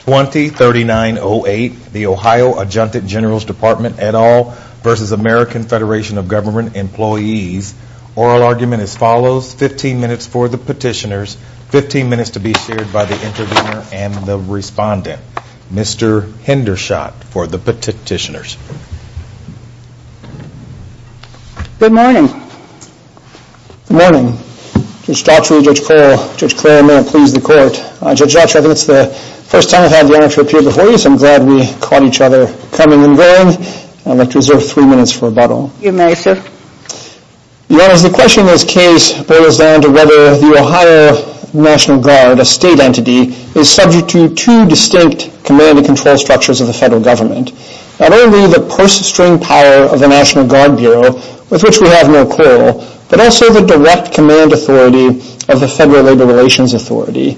20-3908, the Ohio Adjunct General's Department, et al. v. American Federation of Government Employees. Oral argument as follows, 15 minutes for the petitioners, 15 minutes to be shared by the interviewer and the respondent. Mr. Hendershot for the petitioners. Good morning. Good morning. Judge Dotson, Judge Cole, Judge Claremont, please the court. Judge Dotson, I think it's the first time I've had the honor to appear before you, so I'm glad we caught each other coming and going. I'd like to reserve three minutes for rebuttal. You may, sir. Your Honor, the question in this case boils down to whether the Ohio National Guard, a state entity, is subject to two distinct command and control structures of the federal government. Not only the purse-string power of the National Guard Bureau, with which we have no quarrel, but also the direct command authority of the Ohio Labor Relations Authority.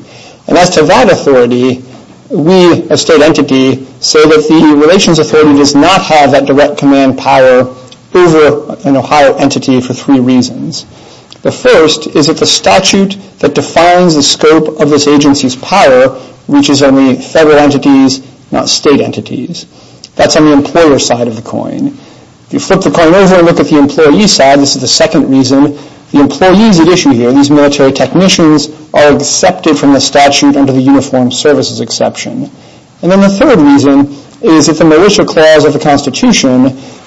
And as to that authority, we, a state entity, say that the Relations Authority does not have that direct command power over an Ohio entity for three reasons. The first is that the statute that defines the scope of this agency's power reaches only federal entities, not state entities. That's on the employer side of the coin. If you flip the coin over and look at the employee side, this is the second reason. The employees at issue here, these military technicians, are accepted from the statute under the Uniformed Services Exception. And then the third reason is that the Militia Clause of the Constitution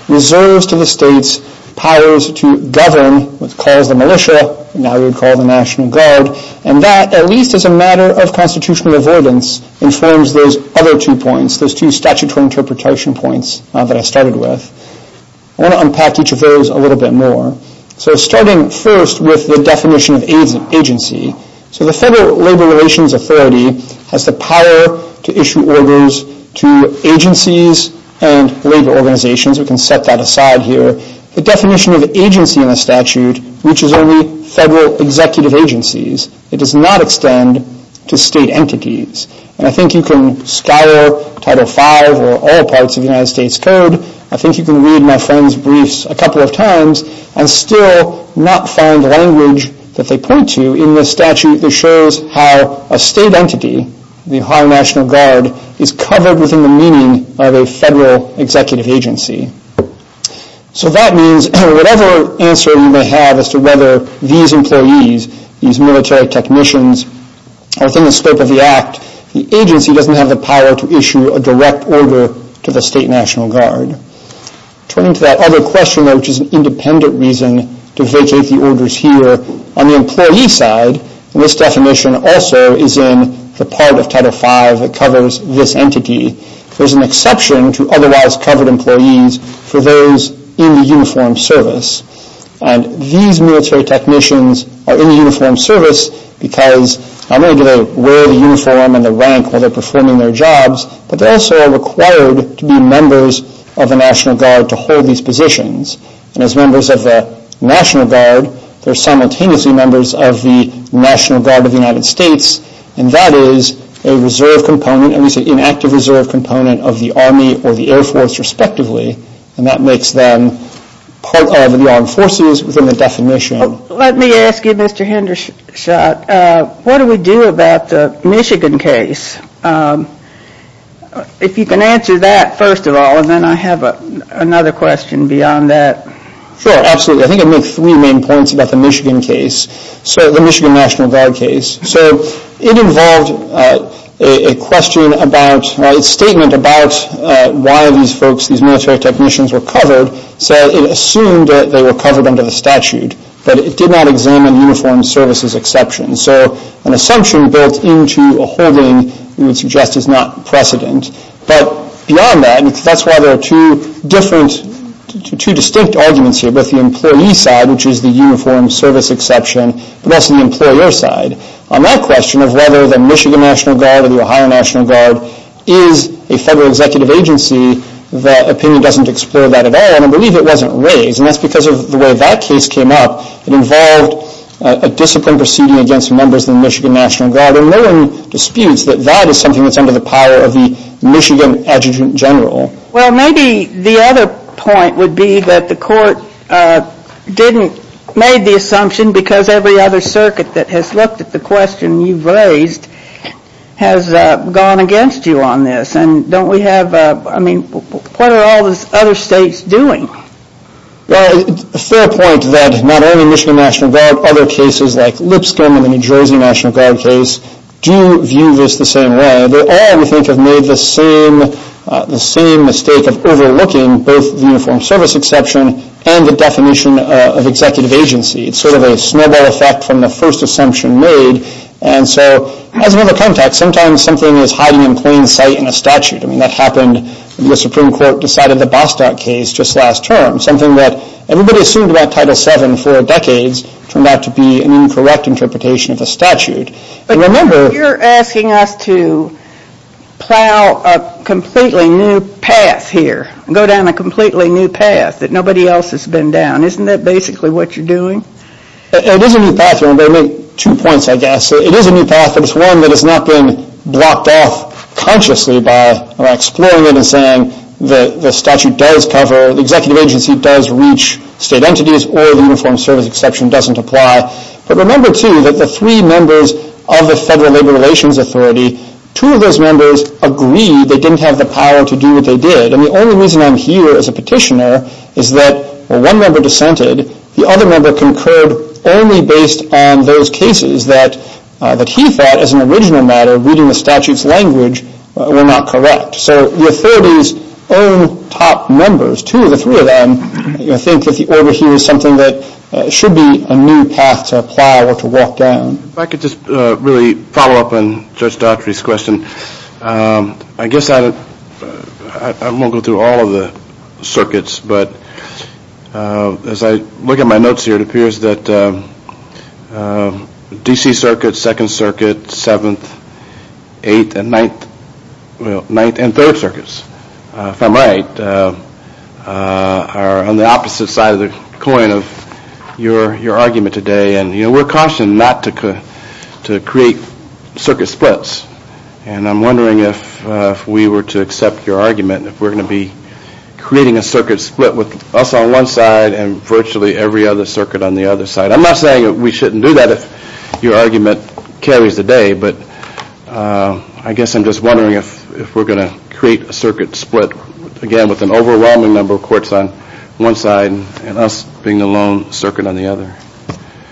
reserves to the states powers to govern what's called the militia, now we would call the National Guard. And that, at least as a matter of constitutional avoidance, informs those other two points, those two statutory interpretation points that I started with. I want to unpack each of those a little bit more. So starting first with the definition of agency. So the Federal Labor Relations Authority has the power to issue orders to agencies and labor organizations. We can set that aside here. The definition of agency in the statute reaches only federal executive agencies. It does not extend to the United States Code. I think you can read my friend's briefs a couple of times and still not find the language that they point to in the statute that shows how a state entity, the Ohio National Guard, is covered within the meaning of a federal executive agency. So that means whatever answer you may have as to whether these employees, these military technicians, are within the scope of the act, the agency doesn't have the power to issue a direct order to the State National Guard. Turning to that other question, though, which is an independent reason to vacate the orders here, on the employee side, and this definition also is in the part of Title V that covers this entity, there's an exception to otherwise covered employees for those in the uniformed service. And these military technicians are in the uniformed service because not only do they wear the uniform and the rank while they're performing their jobs, but they're also required to be members of the National Guard to hold these positions. And as members of the National Guard, they're simultaneously members of the National Guard of the United States, and that is a reserve component, at least an inactive reserve component of the Army or the Air Force, respectively. And that makes them part of the Armed Forces within the definition. Let me ask you, Mr. Hendershot, what do we do about the Michigan case? If you can answer that first of all, and then I have another question beyond that. Sure, absolutely. I think I'd make three main points about the Michigan case, the Michigan National Guard case. So it involved a question about, a statement about why these folks, these military technicians, were covered. So it assumed that they were covered under the statute, but it did not examine uniformed services exceptions. So an assumption built into a holding, we would suggest, is not precedent. But beyond that, that's why there are two different, two distinct arguments here, both the employee side, which is the uniformed service exception, but also the employer side. On that question of whether the Michigan National Guard or the Ohio National Guard is a federal executive agency, the opinion doesn't explore that at all, and I believe it wasn't raised. And that's because of the way that case came up. It involved a discipline proceeding against members of the Michigan National Guard, and no one disputes that that is something that's under the power of the Michigan Adjutant General. Well, maybe the other point would be that the Court didn't, made the assumption because every other circuit that has looked at the question you've raised has gone against you on this. And don't we have, I mean, what are all these other states doing? Well, it's a fair point that not only Michigan National Guard, other cases like Lipscomb and the New Jersey National Guard case do view this the same way. They all, we think, have made the same mistake of overlooking both the uniformed service exception and the definition of executive agency. It's sort of a snowball effect from the first assumption made. And so, as another context, sometimes something is hiding in plain sight in a statute. I mean, that happened when the Supreme Court decided the Bostock case just last term. Something that everybody assumed about Title VII for decades turned out to be an incorrect interpretation of a statute. But remember, you're asking us to plow a completely new path here, go down a completely new path that nobody else has been down. Isn't that basically what you're doing? It is a new path, but I'll make two points, I guess. It is a new path, but it's one that has not been blocked off consciously by exploring it and saying the statute does cover, the executive agency does reach state entities, or the uniformed service exception doesn't apply. But remember, too, that the three members of the Federal Labor Relations Authority, two of those members agreed they didn't have the power to do what they did. And the only reason I'm here as a petitioner is that one member dissented, the other member concurred only based on those cases that he thought, as an original matter, reading the statute's language, were not correct. So the authorities' own top members, two of the three of them, think that the order here is something that should be a new path to plow or to walk down. If I could just really follow up on Judge Daughtry's question, I guess I won't go through all of the circuits, but as I look at my notes here, it appears that DC Circuit, 2nd Circuit, 7th, 8th, and 9th, and 3rd Circuits, if I'm right, are on the opposite side of the coin of your argument today. And we're cautioned not to create circuit splits, and I'm wondering if we were to accept your argument, if we're going to be creating a circuit split with us on one side and virtually every other circuit on the other side. I'm not saying we shouldn't do that if your argument carries the day, but I guess I'm just wondering if we're going to create a circuit split, again, with an overwhelming number of courts on one side and us being the lone circuit on the other.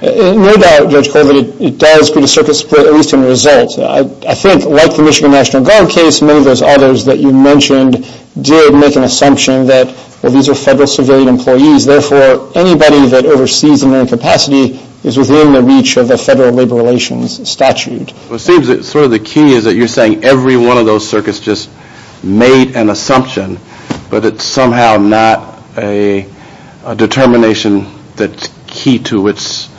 No doubt, Judge Colvin, it does create a circuit split, at least in result. I think, like the Michigan National Guard case, many of those others that you mentioned did make an assumption that these are federal civilian employees, therefore anybody that oversees them in capacity is within the reach of the federal labor relations statute. It seems that sort of the key is that you're saying every one of those circuits just made an assumption, but it's somehow not a determination that's key to its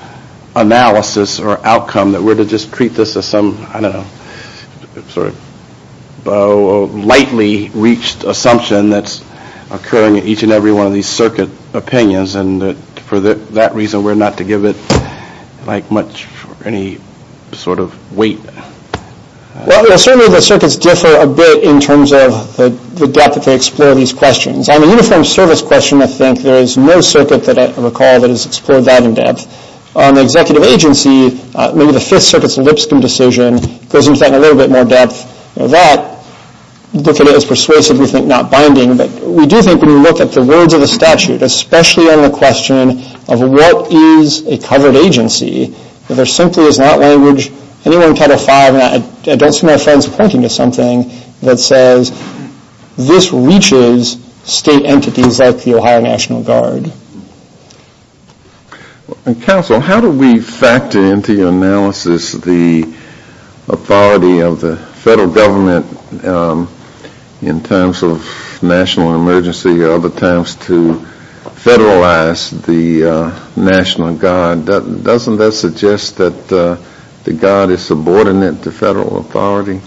analysis or outcome that we're to just treat this as some, I don't know, sort of lightly reached assumption that's occurring at each and every one of these circuit opinions, and for that reason we're not to give it, like, much or any sort of weight. Well, certainly the circuits differ a bit in terms of the depth that they explore these questions. On the uniform service question, I think there is no circuit that I recall that has explored that in depth. On the executive agency, maybe the Fifth Circuit's Lipscomb decision goes into that in a little bit more depth. That, look at it as persuasive, we think not binding, but we do think when you look at the words of the statute, especially on the question of what is a covered agency, there simply is not language anywhere in Title V, and I don't see my friends pointing to something that says this reaches state entities like the Ohio National Guard. And, Counsel, how do we factor into your analysis the authority of the federal government in times of national emergency or other times to federalize the National Guard? Doesn't that suggest that the Guard is subordinate to federal authority?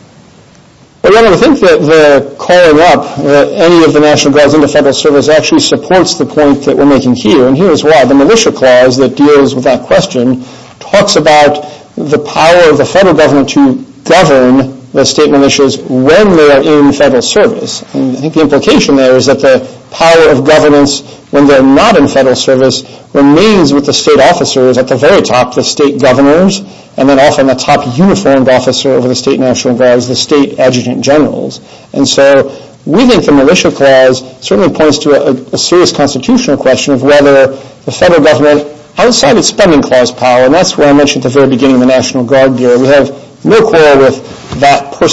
Well, I think that the calling up any of the National Guards into federal service actually supports the point that we're making here, and here is why. The Militia Clause that deals with that question talks about the power of the federal government to govern the state in federal service, and I think the implication there is that the power of governance when they're not in federal service remains with the state officers at the very top, the state governors, and then often the top uniformed officer over the state National Guards, the state adjutant generals. And so we think the Militia Clause certainly points to a serious constitutional question of whether the federal government, outside of its spending clause power, and that's what I mentioned at the very beginning of the National Guard Bureau, we have no quarrel with that When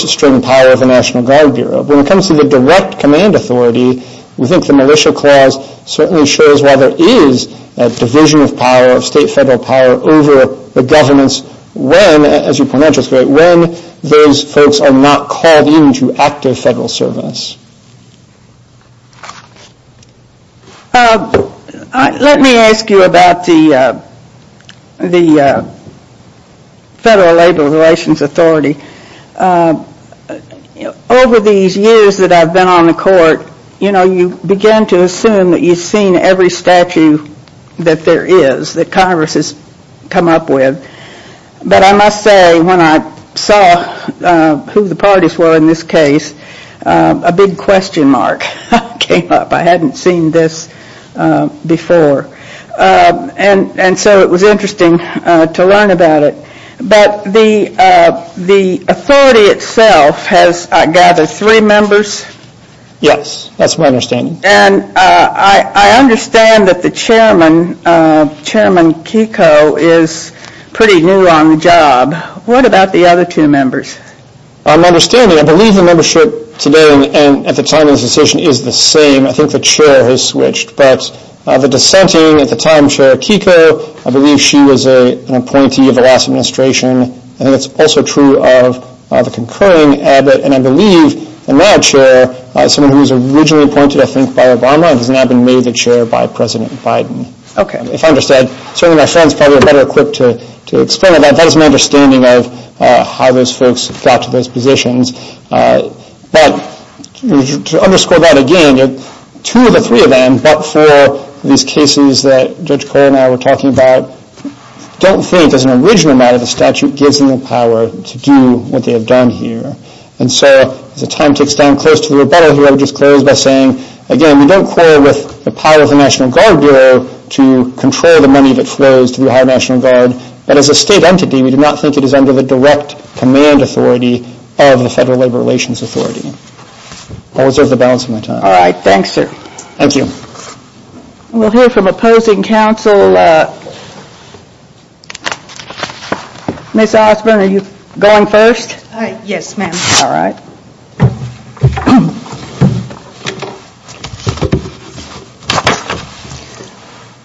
it comes to the direct command authority, we think the Militia Clause certainly shows why there is a division of power, of state federal power, over the governance when, as you pointed out just a minute ago, when those folks are not called into active federal service. Let me ask you about the Federal Labor Relations Authority. Over these years that I've been on the court, you know, you begin to assume that you've seen every statute that there is, that Congress has come up with, but I must say when I saw who the parties were in this case, a big question mark came up. I hadn't seen this before. And so it was interesting to learn about it. But the authority itself has, I gather, three members? Yes, that's my understanding. And I understand that the chairman, Chairman Kiko, is pretty new on the job. What about the other two members? My understanding, I believe the membership today and at the time of this decision is the same. I think the chair has switched. But the dissenting, at the time, Chair Kiko, I believe she was an appointee of the last administration. I think it's also true of the concurring, Abbott, and I believe the now chair, someone who was originally appointed I think by Obama, has now been made the chair by President Biden. If I understand, certainly my friends probably are better equipped to explain that. That is my understanding of how those folks got to those positions. But to underscore that again, two of the three of them, but for these cases that Judge Cole and I were talking about, don't think as an original matter the statute gives them the power to do what they have done here. And so as the time ticks down close to the rebuttal here, I would just close by saying, again, we don't quarrel with the power of the National Guard Bureau to control the money that flows to the Ohio National Guard. And as a state entity, we do not think it is under the direct command authority of the Federal Labor Relations Authority. I will reserve the balance of my time. All right. Thanks, sir. Thank you. We will hear from opposing counsel. Ms. Osborne, are you going first? Yes, ma'am. All right.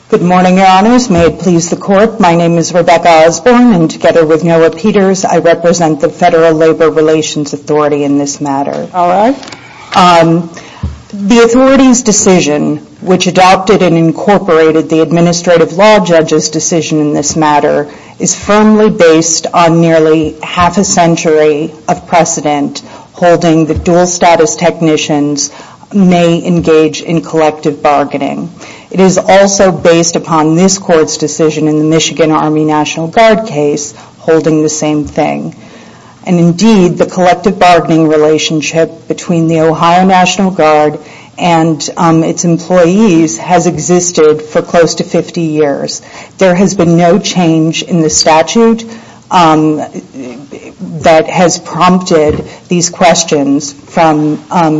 Good morning, Your Honors. May it please the Court, my name is Rebecca Osborne and together with Noah Peters, I represent the Federal Labor Relations Authority in this matter. All right. The authority's decision, which adopted and incorporated the administrative law judge's decision in this matter, is firmly based on nearly half a century of precedent holding the dual status technicians may engage in collective bargaining. It is also based upon this Court's decision in the Michigan Army National Guard case holding the same thing. And indeed, the collective bargaining relationship between the Ohio National Guard and its employees has existed for close to 50 years. There has been no change in the statute that has prompted these questions from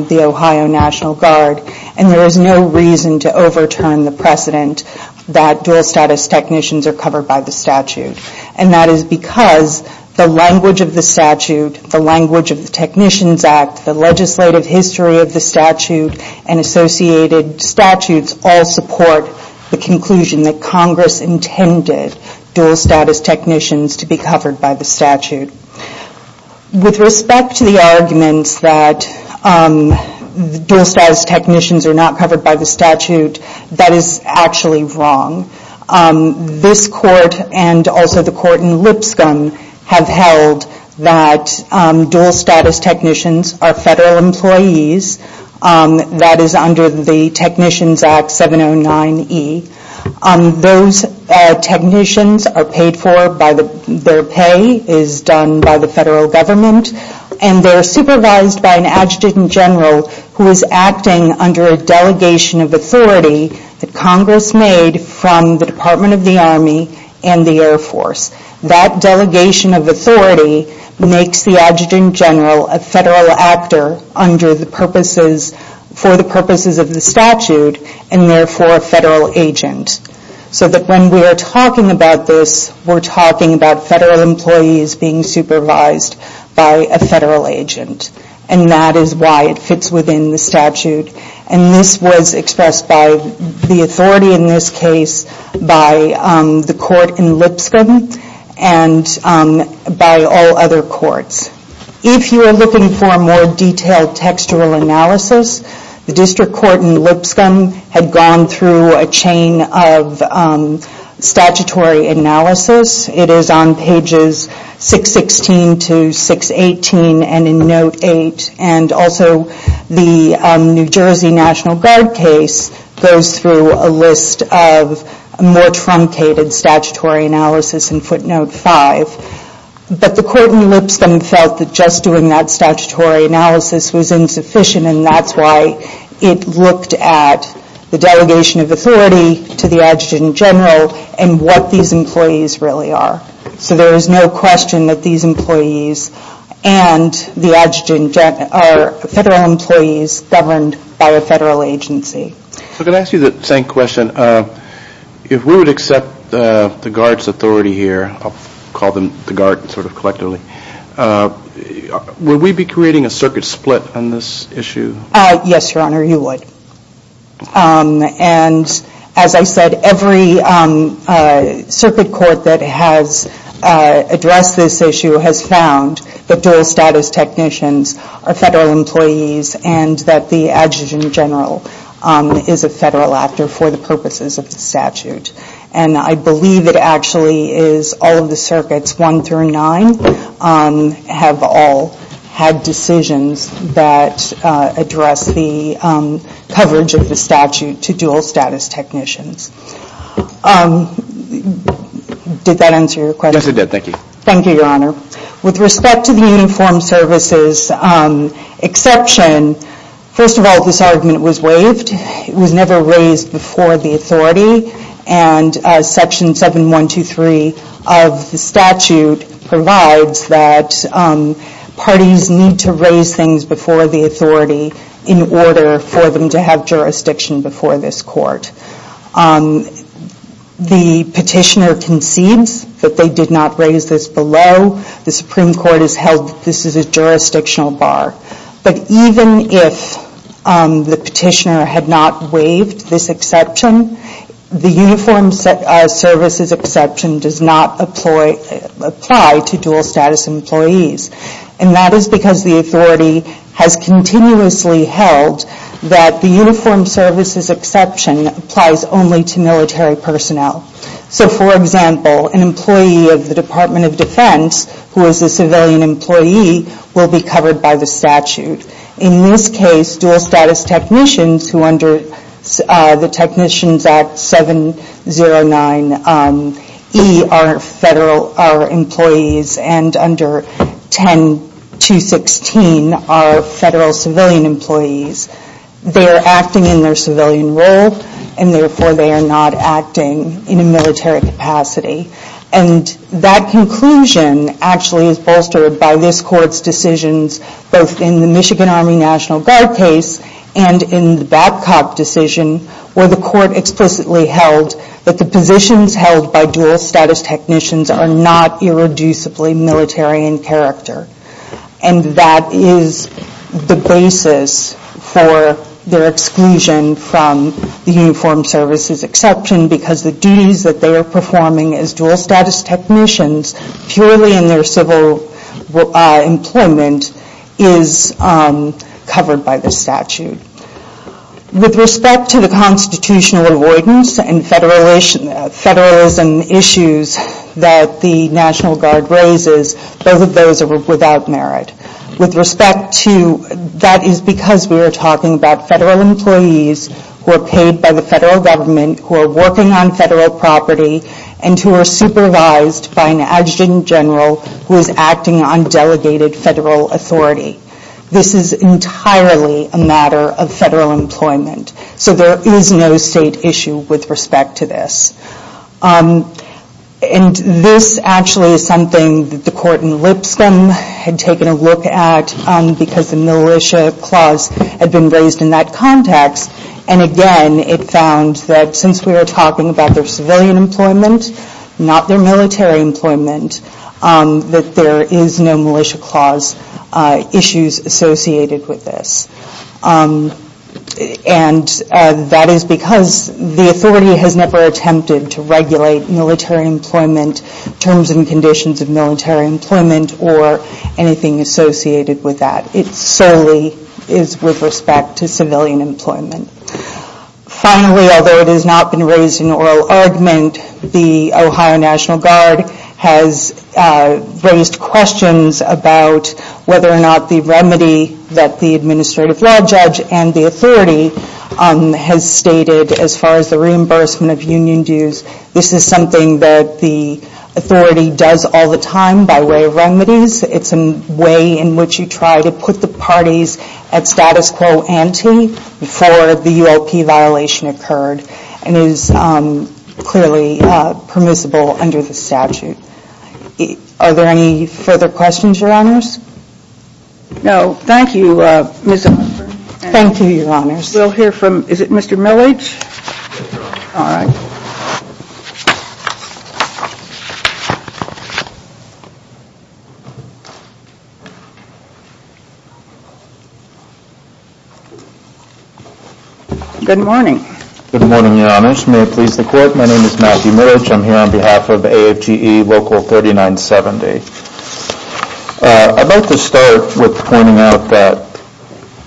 the Ohio National Guard, and there is no reason to overturn the precedent that dual status technicians are covered by the statute. And that is because the language of the statute, the language of the Technicians Act, the legislative history of the statute, and associated statutes all support the conclusion that Congress intended dual status technicians to be covered by the statute. With respect to the arguments that dual status technicians are not covered by the statute, that is actually wrong. This Court and also the Court in Lipscomb have held that dual status technicians are covered by the statute. That is under the Technicians Act 709E. Those technicians are paid for by the, their pay is done by the federal government, and they are supervised by an adjutant general who is acting under a delegation of authority that Congress made from the Department of the Army and the Air Force. That delegation of authority makes the adjutant general a federal actor under the purposes, for the purposes of the statute, and therefore a federal agent. So that when we are talking about this, we're talking about federal employees being supervised by a federal agent. And that is why it fits within the statute. And this was expressed by the authority in this case by the Court in Lipscomb and by all other courts. If you are looking for a more detailed textual analysis, the District Court in Lipscomb had gone through a chain of statutory analysis. It is on pages 616 to 618 and in Note 8. And also the New Jersey National Guard case goes through a list of more trumped-up cases that complicated statutory analysis in footnote 5. But the Court in Lipscomb felt that just doing that statutory analysis was insufficient and that is why it looked at the delegation of authority to the adjutant general and what these employees really are. So there is no question that these employees and the adjutant general are federal employees governed by a federal agency. So can I ask you the same question? If we would accept the Guard's authority here, I'll call them the Guard sort of collectively, would we be creating a circuit split on this issue? Yes, Your Honor, you would. And as I said, every circuit court that has addressed this issue has found that dual status technicians are federal employees and that the adjutant general is a federal actor for the purposes of the statute. And I believe it actually is all of the circuits, one through nine, have all had decisions that address the coverage of the statute to dual status technicians. Did that answer your question? Yes, it did. Thank you. Thank you, Your Honor. With respect to the Uniformed Services exception, first of all, this argument was waived. It was never raised before the authority and Section 7123 of the statute provides that parties need to raise things before the authority in order for them to have jurisdiction before this court. The petitioner concedes that they did not raise this below. The Supreme Court has held this is a jurisdictional bar. But even if the petitioner had not waived this exception, the Uniformed Services exception does not apply to dual status employees. And that is because the authority has continuously held that the Uniformed Services exception applies only to military personnel. So, for example, an employee of the Department of Defense who is a civilian employee will be covered by the statute. In this case, dual status technicians who under the Technicians Act 709E are employees and under 10216 are federal civilian employees. They are acting in their civilian role and therefore they are not acting in a military capacity. And that conclusion actually is bolstered by this Court's decisions both in the Michigan Army National Guard case and in the Babcock decision where the Court explicitly held that the positions held by dual status technicians are not irreducibly military in character. And that is the basis for their exclusion from the Uniformed Services exception because the duties that they are performing as dual status technicians purely in their civil employment is covered by the statute. With respect to the constitutional avoidance and federalism issues that the National Guard raises, both of those are without merit. With respect to this, we are talking about federal employees who are paid by the federal government, who are working on federal property, and who are supervised by an adjutant general who is acting on delegated federal authority. This is entirely a matter of federal employment. So there is no state issue with respect to this. And this actually is something that the court in Lipscomb had taken a look at because the Militia Clause had been raised in that context. And again, it found that since we are talking about their civilian employment, not their military employment, that there is no Militia Clause issues associated with this. And that is because the authority has never attempted to regulate military employment, terms and conditions of military employment, or anything associated with that. It solely is with respect to civilian employment. Finally, although it has not been raised in oral argument, the Ohio National Guard has raised questions about whether or not the remedy that the administrative law judge and the authority has stated as far as the reimbursement of union dues, this is something that the way in which you try to put the parties at status quo ante for the ULP violation occurred and is clearly permissible under the statute. Are there any further questions, Your Honors? No. Thank you, Ms. Humphrey. Thank you, Your Honors. We will hear from, is it Mr. Milledge? Good morning. Good morning, Your Honors. May it please the Court, my name is Matthew Milledge. I am here on behalf of AFGE Local 3970. I would like to start with pointing out that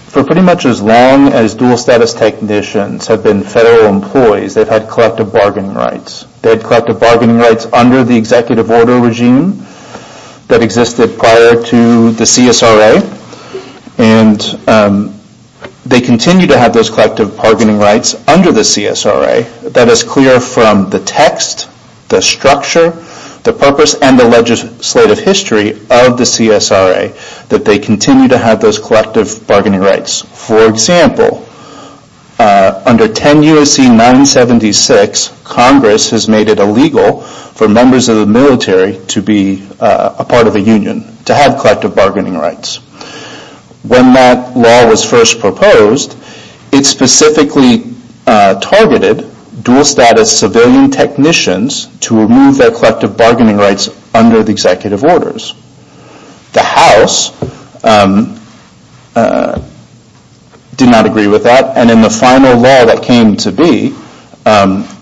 for pretty much as long as dual status technicians have been federal employees, they have had collective bargaining rights. They had collective bargaining rights under the executive order regime that is the CSRA. They continue to have those collective bargaining rights under the CSRA. That is clear from the text, the structure, the purpose, and the legislative history of the CSRA that they continue to have those collective bargaining rights. For example, under 10 U.S.C. 976, Congress has made it illegal for members of the military to be a part of a union, to have collective bargaining rights. When that law was first proposed, it specifically targeted dual status civilian technicians to remove their collective bargaining rights under the executive orders. The House did not agree with that, and in the final law that came to be,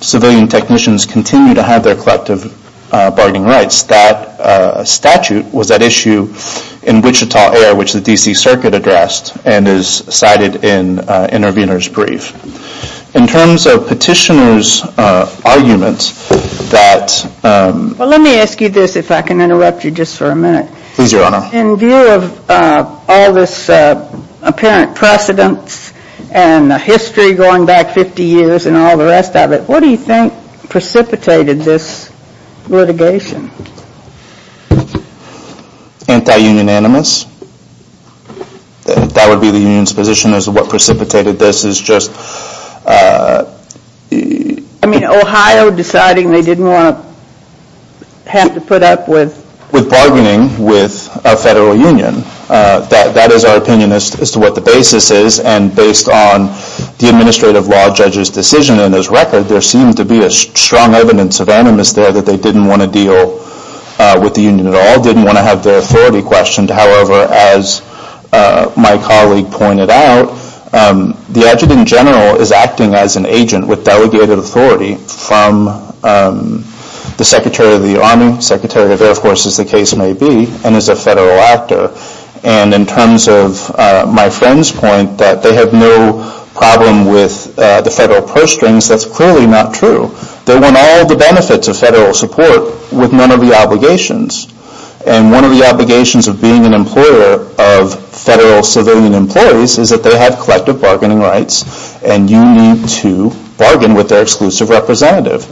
civilian technicians continue to have their collective bargaining rights. That statute was at issue in Wichita Air, which the D.C. Circuit addressed and is cited in Intervenor's Brief. In terms of petitioner's argument that... Well, let me ask you this, if I can interrupt you just for a minute. Please, Your Honor. In view of all this apparent precedence and history going back 50 years and all the rest of it, what do you think precipitated this litigation? Anti-union animus. That would be the union's position as to what precipitated this is just... I mean, Ohio deciding they didn't want to have to put up with... With bargaining with a federal union. That is our opinion as to what the basis is, and based on the administrative law judge's decision and his record, there seemed to be a strong evidence of animus there that they didn't want to deal with the union at all, didn't want to have their authority questioned. However, as my colleague pointed out, the adjutant general is acting as an agent with delegated authority from the Secretary of the Army, Secretary of Air Force, as the case may be, and as a federal actor. And in terms of my friend's point that they have no problem with the federal purse strings, that's clearly not true. They want all the benefits of federal support with none of the obligations. And one of the obligations of being an employer of federal civilian employees is that they have collective bargaining rights, and you need to bargain with their exclusive representative.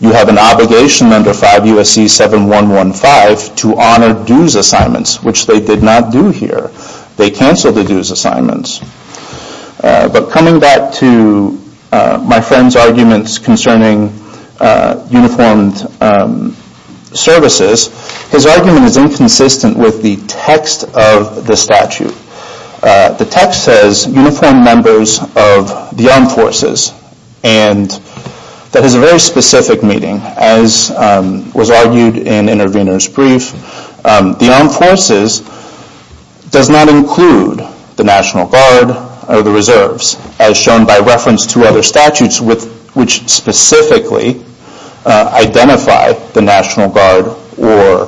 You have an obligation under 5 U.S.C. 7-115 to honor dues assignments, which they did not do here. They canceled the dues assignments. But coming back to my friend's arguments concerning uniformed services, his argument is inconsistent with the text of the statute. The text says uniformed members of the armed forces, and that is a very specific meaning, as was argued in intervener's brief. The armed forces does not include the National Guard or the Reserves, as shown by reference to other statutes which specifically identify the National Guard or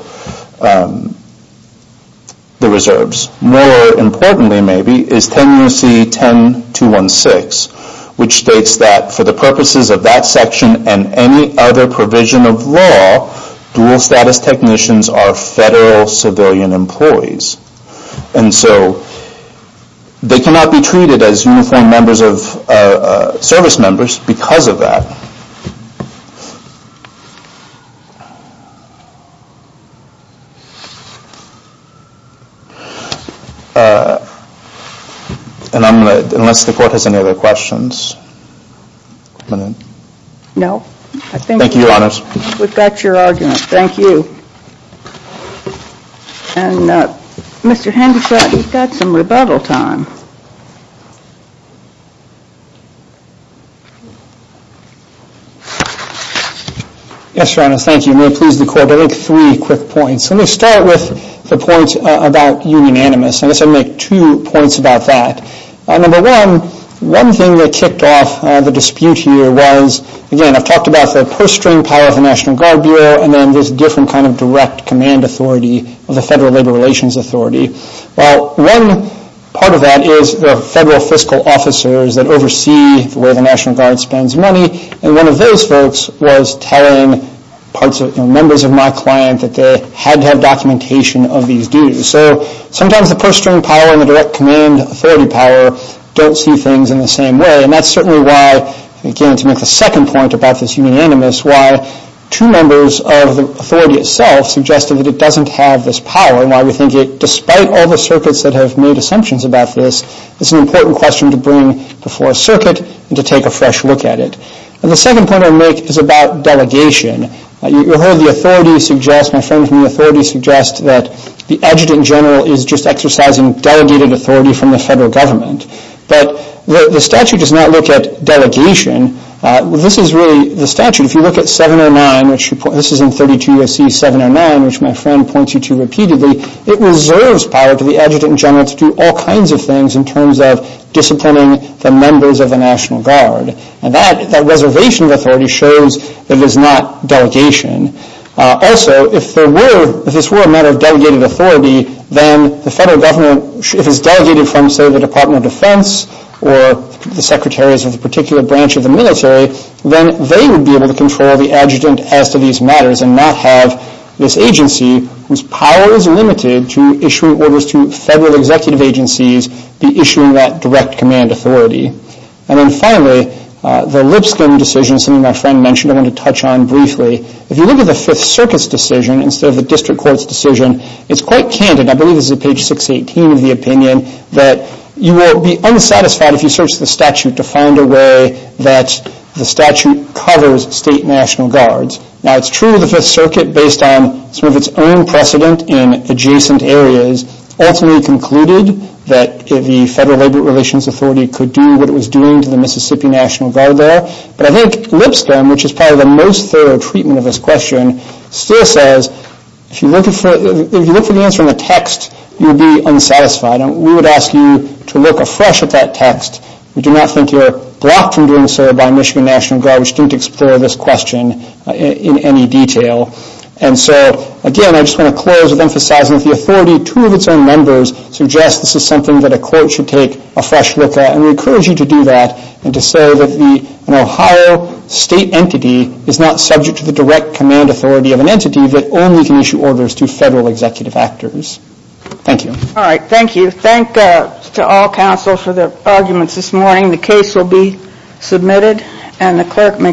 the Reserves. More importantly, maybe, is 10 U.S.C. 10-216, which states that for the purposes of that 10 U.S.C. 10-216, you have to be a civilian employee. And so, they cannot be treated as uniformed service members because of that. And I'm going to, unless the court has any other questions, I'm going to. No, I think we've got your argument. Thank you. And Mr. Hendershott, you've got some rebuttal time. Yes, Your Honor, thank you. May it please the Court, I'll make three quick points. Let me start with the point about union animus. I guess I'll make two points about that. Number one, one thing that kicked off the dispute here was, again, I've talked about the purse string power of the National Guard Bureau, and then this different kind of direct command authority of the Federal Labor Relations Authority. Well, one part of that is the federal fiscal officers that oversee the way the National Guard spends money, and one of those folks was telling members of my client that they had to have documentation of these dues. So, sometimes the purse string power and the direct command authority power don't see things in the same way, and that's certainly why, again, to make the second point about this union animus, why two members of the authority itself suggested that it doesn't have this power and why we think it, despite all the circuits that have made assumptions about this, it's an important question to bring before a circuit and to take a fresh look at it. And the second point I'll make is about delegation. You heard the authority suggest, my friend from the authority suggest, that the adjutant general is just exercising delegated authority from the federal government. But the statute does not look at delegation. This is really the statute. If you look at 709, which this is in 32 U.S.C. 709, which my friend points you to repeatedly, it reserves power to the adjutant general to do all kinds of things in terms of disciplining the members of the National Guard. And that, that reservation of authority shows that it is not delegation. Also, if there were, if this were a matter of delegated authority, then the federal government, if it's delegated from, say, the Department of Defense or the secretaries of a particular branch of the military, then they would be able to control the adjutant as to these matters and not have this agency, whose power is limited to issuing orders to federal executive agencies, be issuing that direct command authority. And then finally, the Lipscomb decision, something my friend mentioned I wanted to touch on briefly. If you look at the Fifth Circuit's decision instead of the District Court's decision, it's quite candid, I believe this is at page 618 of the opinion, that you will be unsatisfied if you search the statute to find a way that the statute covers state National Guards. Now, it's true that the Fifth Circuit, based on some of its own precedent in adjacent areas, ultimately concluded that the Federal Labor Relations Authority could do what it was doing to the Mississippi National Guard there. But I think Lipscomb, which is probably the most If you look for the answer in the text, you will be unsatisfied. We would ask you to look afresh at that text. We do not think you are blocked from doing so by Michigan National Guard, which didn't explore this question in any detail. And so, again, I just want to close with emphasizing that the authority, two of its own members, suggest this is something that a court should take a fresh look at. And we encourage you to do that and to say that an Ohio State entity is not subject to the direct command authority of an entity that only can issue orders to federal executive actors. Thank you. All right. Thank you. Thank you to all counsel for their arguments this morning. The case will be submitted and the clerk may